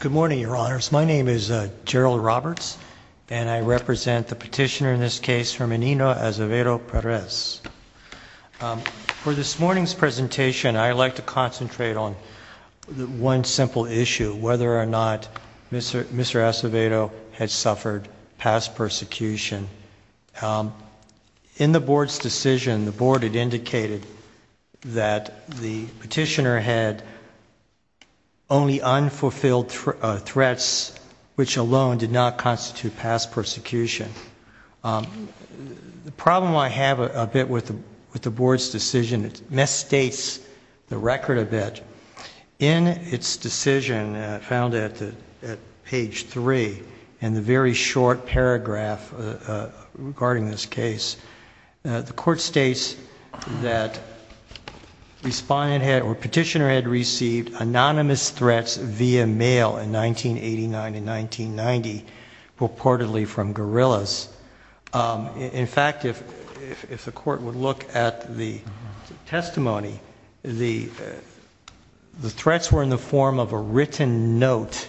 Good morning, Your Honors. My name is Gerald Roberts, and I represent the petitioner in this case, Herminio Acevedo-Perez. For this morning's presentation, I'd like to concentrate on one simple issue, whether or not Mr. Acevedo had suffered past persecution. In the Board's decision, the petitioner had only unfulfilled threats, which alone did not constitute past persecution. The problem I have a bit with the Board's decision, it misstates the record a bit. In its decision, found at page 3, in the very short paragraph regarding this case, the Court states that the petitioner had received anonymous threats via mail in 1989 and 1990, purportedly from guerrillas. In fact, if the Court would look at the testimony, the threats were in the form of a written note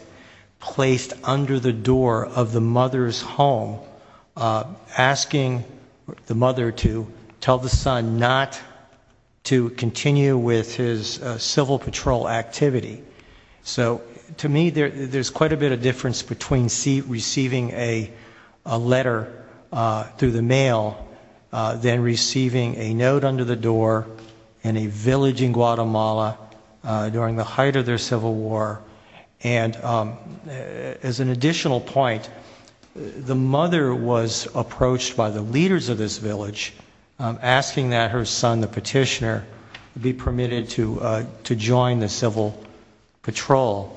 placed under the door of the mother's home, asking the mother to tell the son not to continue with his civil patrol activity. So, to me, there's quite a bit of difference between receiving a letter through the mail than receiving a note under the door in a village in Guatemala during the height of their civil war. And as an additional point, the mother was approached by the leaders of this village, asking that her son, the petitioner, be permitted to join the civil patrol.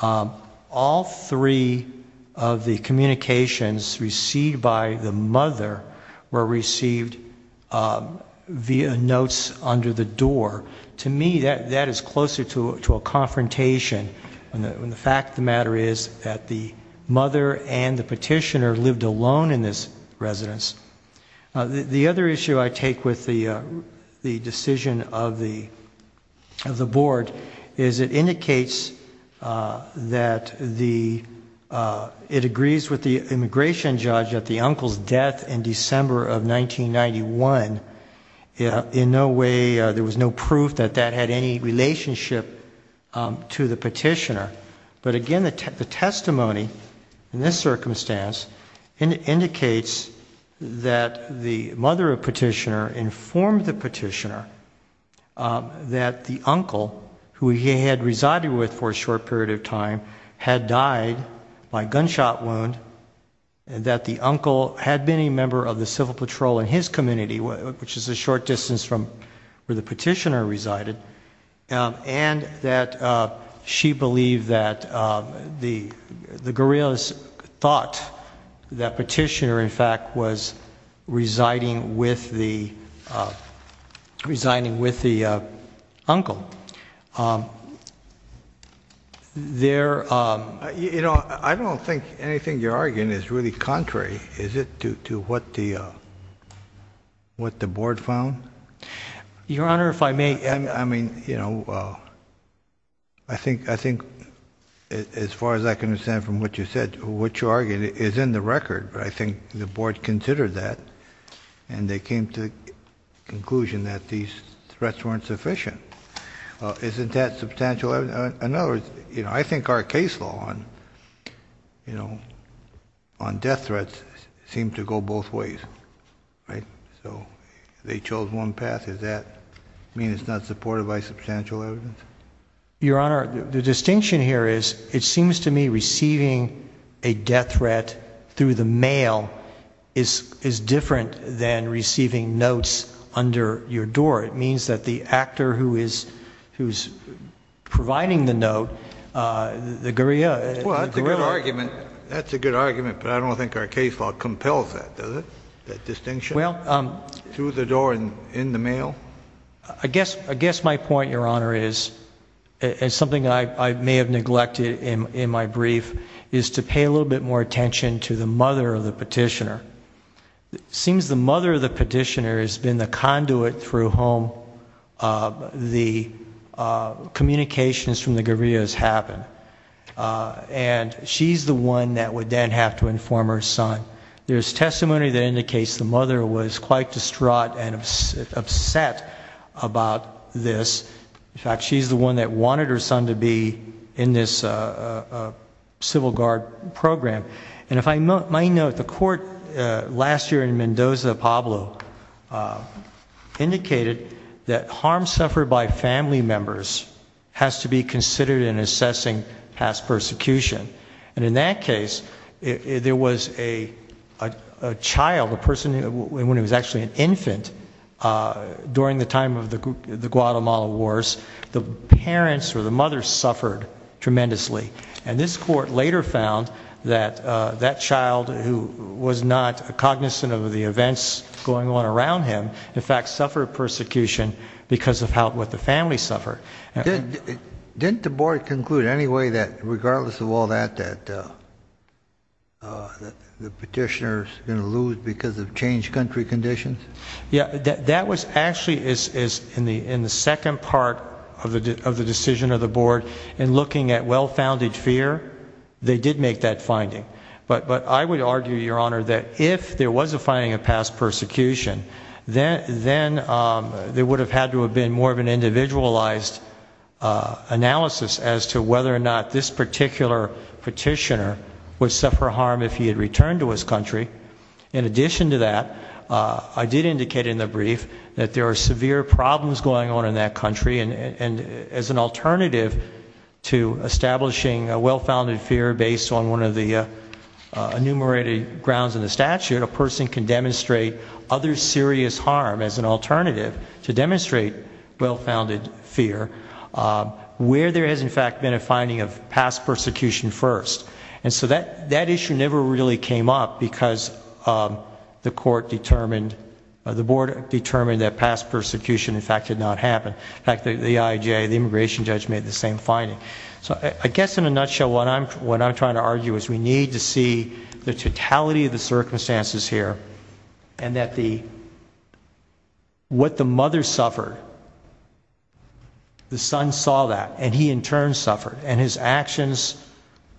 All three of the communications received by the mother were received via notes under the door. To me, that is closer to a confrontation when the fact of the matter is that the mother and the petitioner lived alone in this residence. The other issue I take with the decision of the Board is it indicates that it agrees with the immigration judge that the uncle's death in that had any relationship to the petitioner. But again, the testimony in this circumstance indicates that the mother of petitioner informed the petitioner that the uncle, who he had resided with for a short period of time, had died by gunshot wound, that the uncle had been a member of the civil patrol in his community, which is a short distance from where petitioner resided, and that she believed that the guerrillas thought that petitioner, in fact, was residing with the uncle. I don't think anything you're arguing is really contrary, is it, to what the Board found? Your Honor, if I may. I mean, you know, I think, as far as I can understand from what you said, what you're arguing is in the record, but I think the Board considered that and they came to the conclusion that these threats weren't seem to go both ways, right? So they chose one path. Does that mean it's not supported by substantial evidence? Your Honor, the distinction here is it seems to me receiving a death threat through the mail is different than receiving notes under your door. It means that the actor who is providing the note, the guerrilla. Well, that's a good argument. That's a good argument, but I don't think our case law compels that, does it? That distinction through the door and in the mail? I guess my point, Your Honor, is, and something I may have neglected in my brief, is to pay a little bit more attention to the mother of the petitioner. Seems the mother of the petitioner has been the conduit through whom the communications from the former son. There's testimony that indicates the mother was quite distraught and upset about this. In fact, she's the one that wanted her son to be in this Civil Guard program. And if I might note, the court last year in Mendoza Pablo indicated that harm suffered by family members has to be a child, a person, when he was actually an infant during the time of the Guatemala Wars, the parents or the mother suffered tremendously. And this court later found that that child who was not cognizant of the events going on around him, in fact, suffered persecution because of what the family suffered. Didn't the board conclude anyway that regardless of all that, that the petitioner's going to lose because of changed country conditions? Yeah, that was actually, is in the second part of the decision of the board, in looking at well-founded fear, they did make that finding. But I would argue, Your Honor, that if there was a finding of past persecution, then there would have had to have been more of an individualized analysis as to whether or not this particular petitioner would suffer harm if he had returned to his country. In addition to that, I did indicate in the brief that there are severe problems going on in that country. And as an alternative to establishing a well-founded fear based on one of the enumerated grounds in the statute, a person can demonstrate other serious harm as an alternative to demonstrate well-founded fear where there has, in fact, been a finding of past persecution first. And so that issue never really came up because the board determined that past persecution, in fact, did not happen. In fact, the IJA, the immigration judge, made the same finding. So I guess in a nutshell, what I'm trying to argue is we need to see the totality of the suffering. The mother suffered. The son saw that. And he, in turn, suffered. And his actions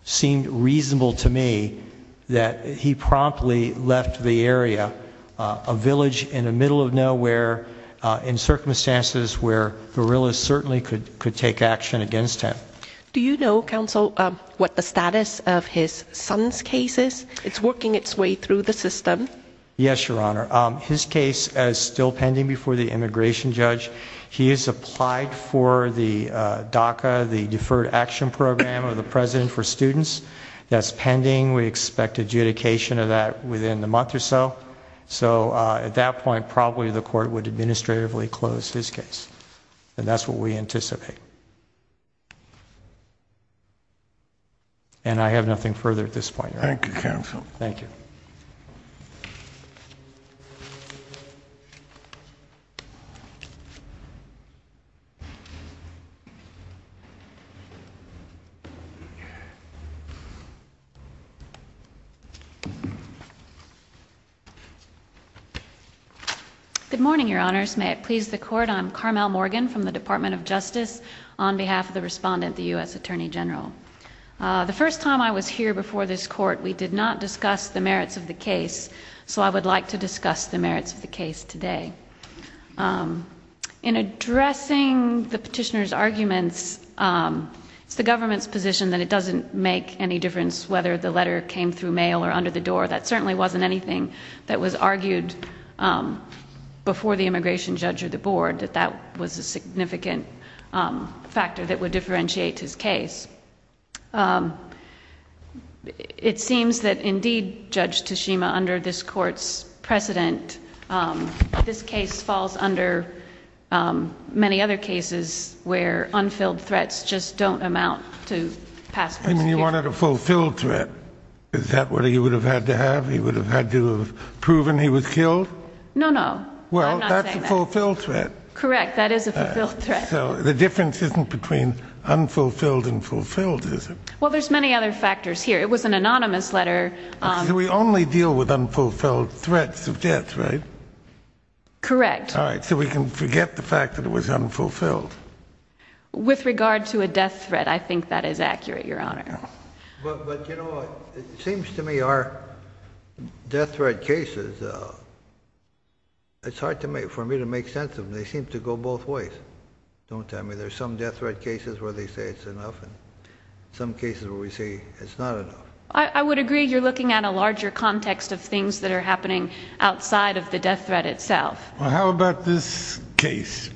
seemed reasonable to me that he promptly left the area, a village in the middle of nowhere, in circumstances where guerrillas certainly could take action against him. Do you know, Counsel, what the status of his son's case is? It's working its way through the system. Yes, Your Honor. His case is still pending before the immigration judge. He has applied for the DACA, the Deferred Action Program of the President for Students. That's pending. We expect adjudication of that within the month or so. So at that point, probably the court would administratively close his case. And that's what we anticipate. And I have nothing further at this point, Your Honor. Thank you, Counsel. Thank you. Good morning, Your Honors. May it please the Court, I'm Carmel Morgan from the Department of Justice on behalf of the respondent, the U.S. Attorney General. The first time I was here for this court, we did not discuss the merits of the case. So I would like to discuss the merits of the case today. In addressing the petitioner's arguments, it's the government's position that it doesn't make any difference whether the letter came through mail or under the door. That certainly wasn't anything that was argued before the immigration judge or the board, that that was a it seems that indeed, Judge Tashima, under this court's precedent, this case falls under many other cases where unfilled threats just don't amount to pass. And you wanted a fulfilled threat. Is that what he would have had to have? He would have had to proven he was killed? No, no. Well, that's a fulfilled threat. Correct. That is a fulfilled threat. So the difference isn't between unfulfilled and fulfilled, is it? Well, there's many other factors here. It was an anonymous letter. We only deal with unfulfilled threats of death, right? Correct. All right. So we can forget the fact that it was unfulfilled. With regard to a death threat, I think that is accurate, Your Honor. But, you know, it seems to me our death threat cases, it's hard for me to make sense of them. They seem to go both ways, don't they? I mean, some death threat cases where they say it's enough and some cases where we say it's not enough. I would agree you're looking at a larger context of things that are happening outside of the death threat itself. Well, how about this case?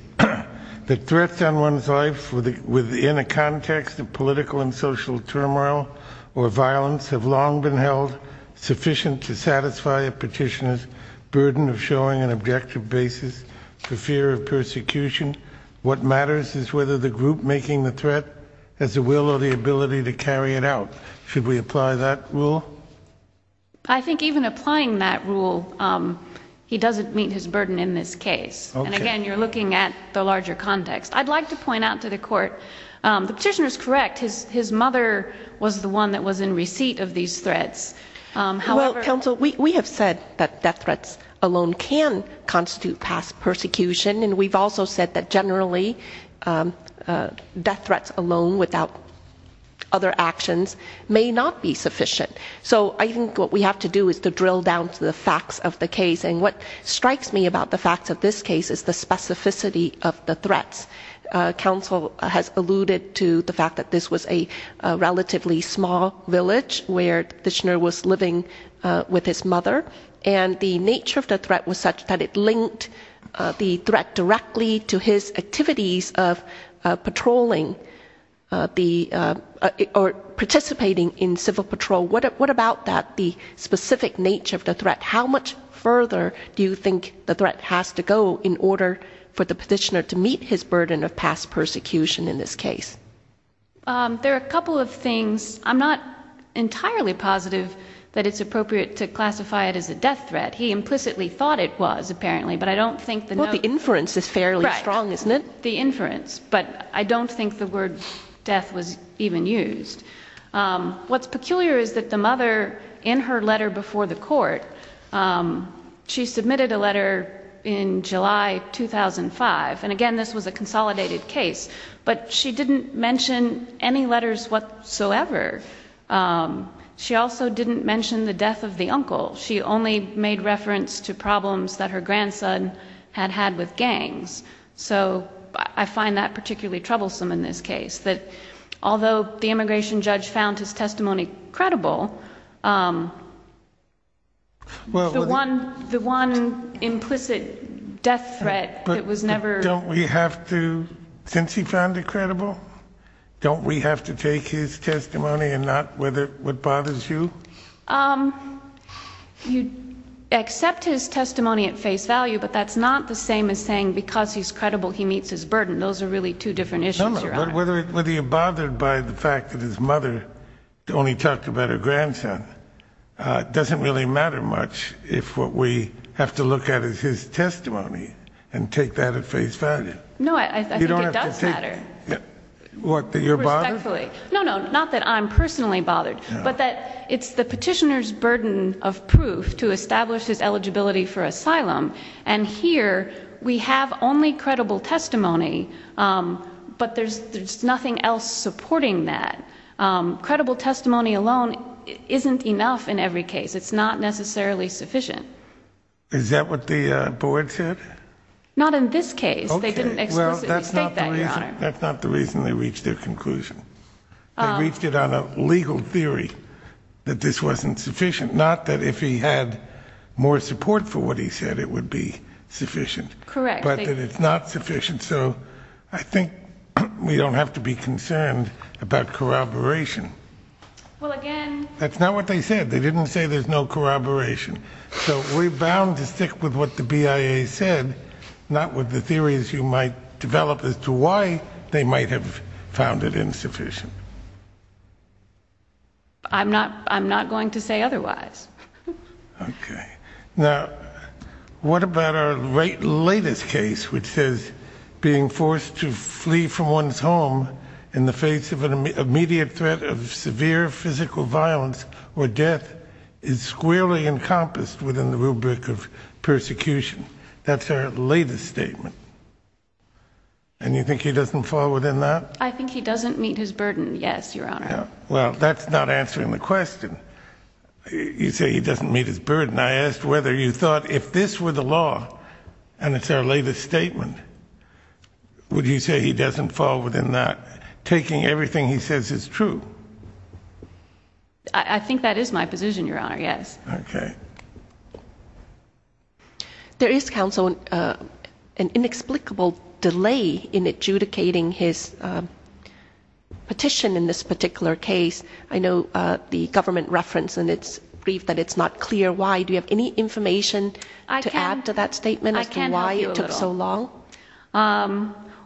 The threats on one's life within a context of political and social turmoil or violence have long been held sufficient to satisfy a petitioner's burden of showing an group making the threat has the will or the ability to carry it out. Should we apply that rule? I think even applying that rule, he doesn't meet his burden in this case. And again, you're looking at the larger context. I'd like to point out to the court, the petitioner is correct. His mother was the one that was in receipt of these threats. Well, counsel, we have said that death threats alone can constitute past persecution. And we've also said that generally death threats alone without other actions may not be sufficient. So I think what we have to do is to drill down to the facts of the case. And what strikes me about the facts of this case is the specificity of the threats. Counsel has alluded to the fact that this was a relatively small village where the petitioner was participating in civil patrol. What about that, the specific nature of the threat? How much further do you think the threat has to go in order for the petitioner to meet his burden of past persecution in this case? There are a couple of things. I'm not entirely positive that it's appropriate to classify it as a death threat. He implicitly was, apparently. But I don't think the inference is fairly strong, isn't it? The inference, but I don't think the word death was even used. What's peculiar is that the mother in her letter before the court, she submitted a letter in July 2005. And again, this was a consolidated case, but she didn't mention any letters whatsoever. She also didn't mention the death of the uncle. She only made reference to problems that her grandson had had with gangs. So I find that particularly troublesome in this case, that although the immigration judge found his testimony credible, the one implicit death threat that was never... Don't we have to, since he found it credible, don't we have to take his testimony and not what bothers you? You accept his testimony at face value, but that's not the same as saying because he's credible, he meets his burden. Those are really two different issues, Your Honor. Whether you're bothered by the fact that his mother only talked about her grandson doesn't really matter much if what we have to look at is his testimony and take that at face value. No, I think it does matter. What, that you're bothered? No, no, not that I'm personally bothered, but that it's the petitioner's burden of proof to establish his eligibility for asylum. And here we have only credible testimony, but there's nothing else supporting that. Credible testimony alone isn't enough in every case. It's not necessarily sufficient. Is that what the board said? Not in this case. They didn't explicitly state that, Your Honor. That's not the reason they reached their conclusion. They reached it on a legal theory that this wasn't sufficient. Not that if he had more support for what he said it would be sufficient. Correct. But that it's not sufficient. So I think we don't have to be concerned about corroboration. Well, again... That's not what they said. They didn't say there's no corroboration. So we're bound to as to why they might have found it insufficient. I'm not going to say otherwise. Okay. Now, what about our latest case, which says being forced to flee from one's home in the face of an immediate threat of severe physical violence or death is squarely encompassed in the rubric of persecution? That's our latest statement. And you think he doesn't fall within that? I think he doesn't meet his burden. Yes, Your Honor. Well, that's not answering the question. You say he doesn't meet his burden. I asked whether you thought if this were the law, and it's our latest statement, would you say he doesn't fall within that, taking everything he says is true? I think that is my position, Your Honor. Yes. Okay. There is, counsel, an inexplicable delay in adjudicating his petition in this particular case. I know the government referenced in its brief that it's not clear why. Do you have any information to add to that statement as to why it took so long?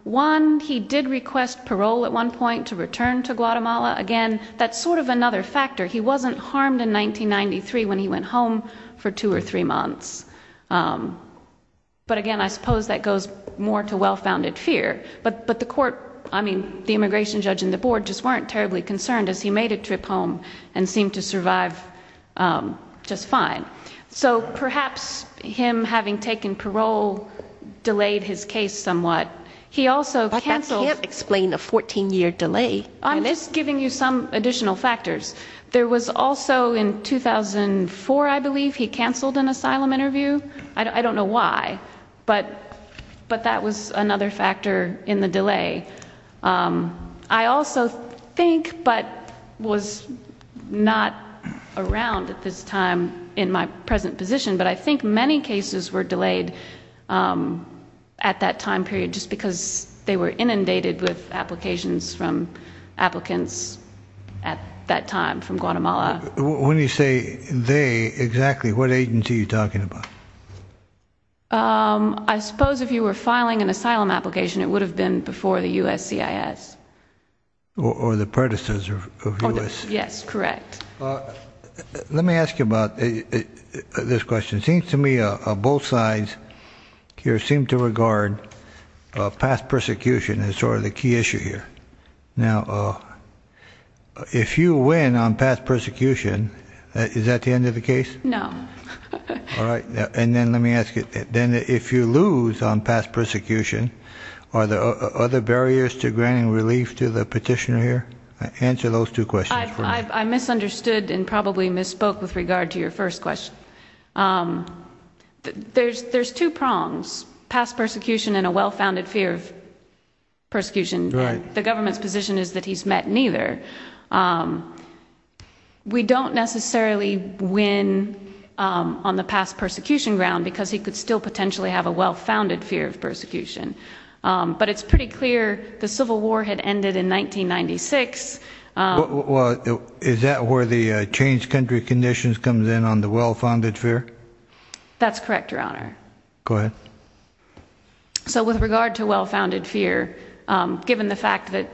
One, he did request parole at one point to return to Guatemala. Again, that's sort of another factor. He wasn't harmed in 1993 when he went home for two or three months. But again, I suppose that goes more to well-founded fear. But the court, I mean, the immigration judge and the board just weren't terribly concerned as he made a trip home and seemed to survive just fine. So perhaps him having taken parole delayed his case somewhat. He also counseled... But that can't explain a 14-year delay. I'm just giving you some additional factors. There was also in 2004, I believe, he canceled an asylum interview. I don't know why. But that was another factor in the delay. I also think, but was not around at this time in my present position, but I think many cases were delayed at that time period just because they were inundated with applications from applicants at that time from Guatemala. When you say they, exactly what agency are you talking about? I suppose if you were filing an asylum application, it would have been before the USCIS. Or the predecessors of USCIS. Yes, correct. Let me ask you about this question. It seems to me both sides here seem to regard past persecution... If you win on past persecution, is that the end of the case? No. All right. And then let me ask you, then if you lose on past persecution, are there other barriers to granting relief to the petitioner here? Answer those two questions for me. I misunderstood and probably misspoke with regard to your first question. There's two prongs, past persecution and a well-founded fear of persecution. Right. The government's position is that he's met neither. We don't necessarily win on the past persecution ground because he could still potentially have a well-founded fear of persecution. But it's pretty clear the Civil War had ended in 1996. Is that where the changed country conditions comes in on the well-founded fear? That's correct, Your Honor. Go ahead. All right. So with regard to well-founded fear, given the fact that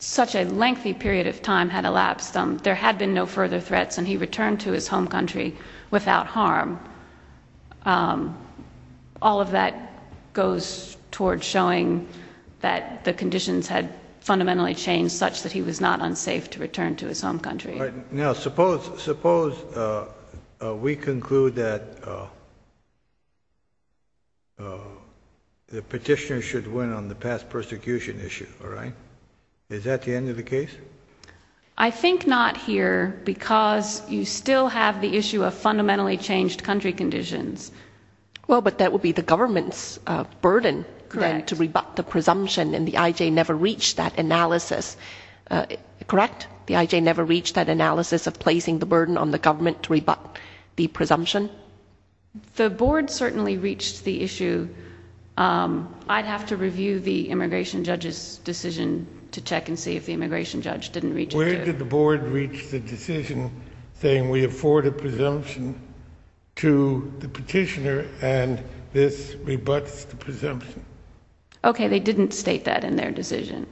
such a lengthy period of time had elapsed, there had been no further threats and he returned to his home country without harm. All of that goes toward showing that the conditions had fundamentally changed such that he was not unsafe to return to his home country. Now, suppose we conclude that the petitioner should win on the past persecution issue, all right? Is that the end of the case? I think not here because you still have the issue of fundamentally changed country conditions. Well, but that would be the government's burden to rebut the presumption and the IJ never reached that analysis, correct? The IJ never reached that analysis of placing the burden on the government to rebut the presumption? The board certainly reached the issue. I'd have to review the immigration judge's decision to check and see if the immigration judge didn't reach it. Where did the board reach the decision saying we afford a presumption to the petitioner and this rebuts the presumption? Okay, they didn't state that in their decision.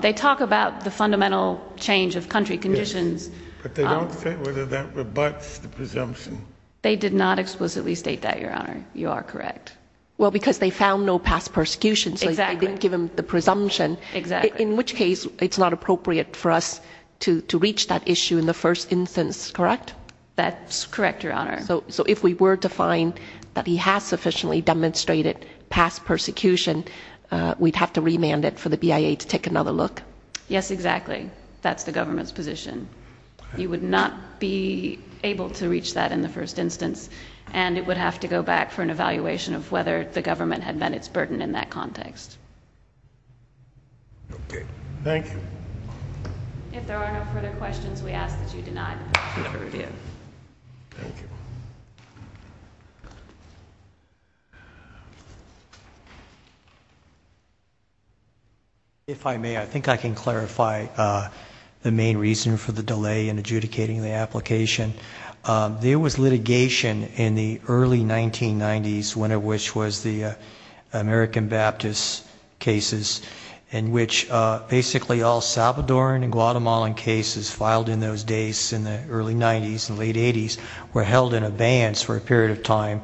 They talk about the fundamental change of country conditions. But they don't say whether that rebuts the presumption. They did not explicitly state that, Your Honor. You are correct. Well, because they found no past persecution, so they didn't give him the presumption. In which case, it's not appropriate for us to reach that issue in the first instance, correct? That's correct, Your Honor. So if we were to find that he has sufficiently demonstrated past persecution, we'd have to take another look? Yes, exactly. That's the government's position. You would not be able to reach that in the first instance. And it would have to go back for an evaluation of whether the government had met its burden in that context. Okay. Thank you. If there are no further questions, we ask that you deny the petition for review. Thank you. If I may, I think I can clarify the main reason for the delay in adjudicating the application. There was litigation in the early 1990s, one of which was the American Baptist cases, in which basically all Salvadoran and Guatemalan cases filed in those days in the early 90s and late 80s were held in abeyance for a period of time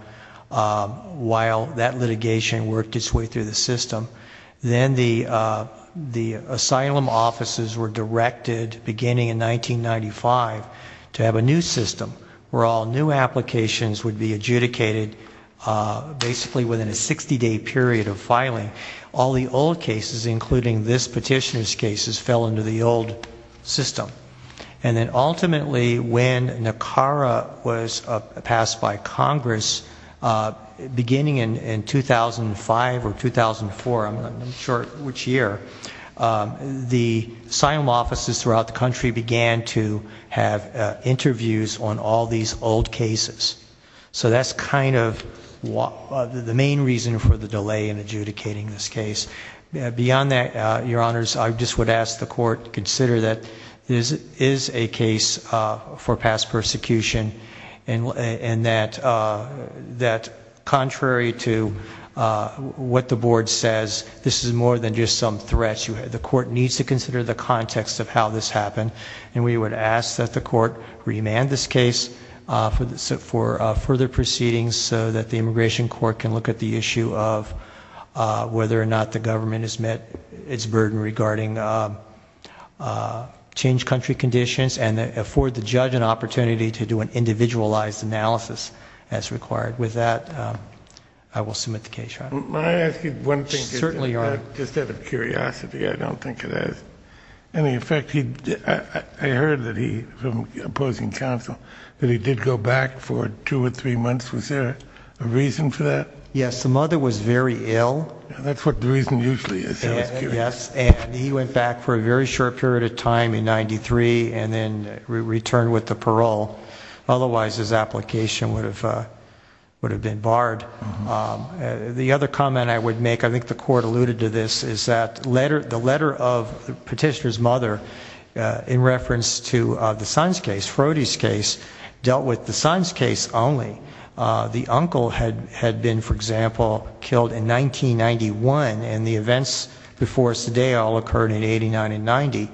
while that litigation worked its way through the system. Then the asylum offices were directed, beginning in 1995, to have a new system where all new applications would be adjudicated basically within a 60-day period of filing. All the old cases, including this petitioner's cases, fell into the old system. And then ultimately, when NACARA was passed by Congress, beginning in 2005 or 2004, I'm not sure which year, the asylum offices throughout the country began to have interviews on all these old cases. So that's kind of the main reason for the delay in adjudicating this case. Beyond that, your honors, I just would ask the court to consider that this is a case for past persecution and that, contrary to what the board says, this is more than just some threats. The court needs to consider the context of how this happened, and we would ask that the court remand this case for further proceedings so that the immigration court can look at the issue of whether or not the government has met its burden regarding changed country conditions and afford the judge an opportunity to do an individualized analysis as required. With that, I will submit the case, your honor. May I ask you one thing? Certainly, your honor. Just out of curiosity, I don't think it has any effect. I heard that he, from opposing counsel, that he did go back for two or three months. Was there a reason for that? Yes, the mother was very ill. That's what the reason usually is. Yes, and he went back for a very short period of time in 93 and then returned with the parole. Otherwise, his application would have been barred. The other comment I would make, I think the court alluded to this, is that the letter of Petitioner's mother in reference to the Sons case, Frody's case, dealt with the Sons case only. The uncle had been, for example, killed in 1991 and the events before us today all occurred in 89 and 90.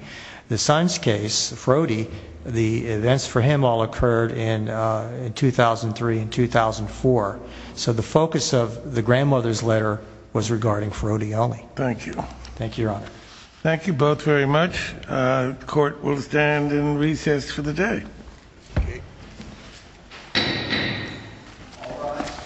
The Sons case, Frody, the events for him all occurred in 2003 and 2004. So the focus of the grandmother's letter was regarding Frody only. Thank you. Thank you, your honor. Thank you both very much. Court will stand in recess for the day. All rise.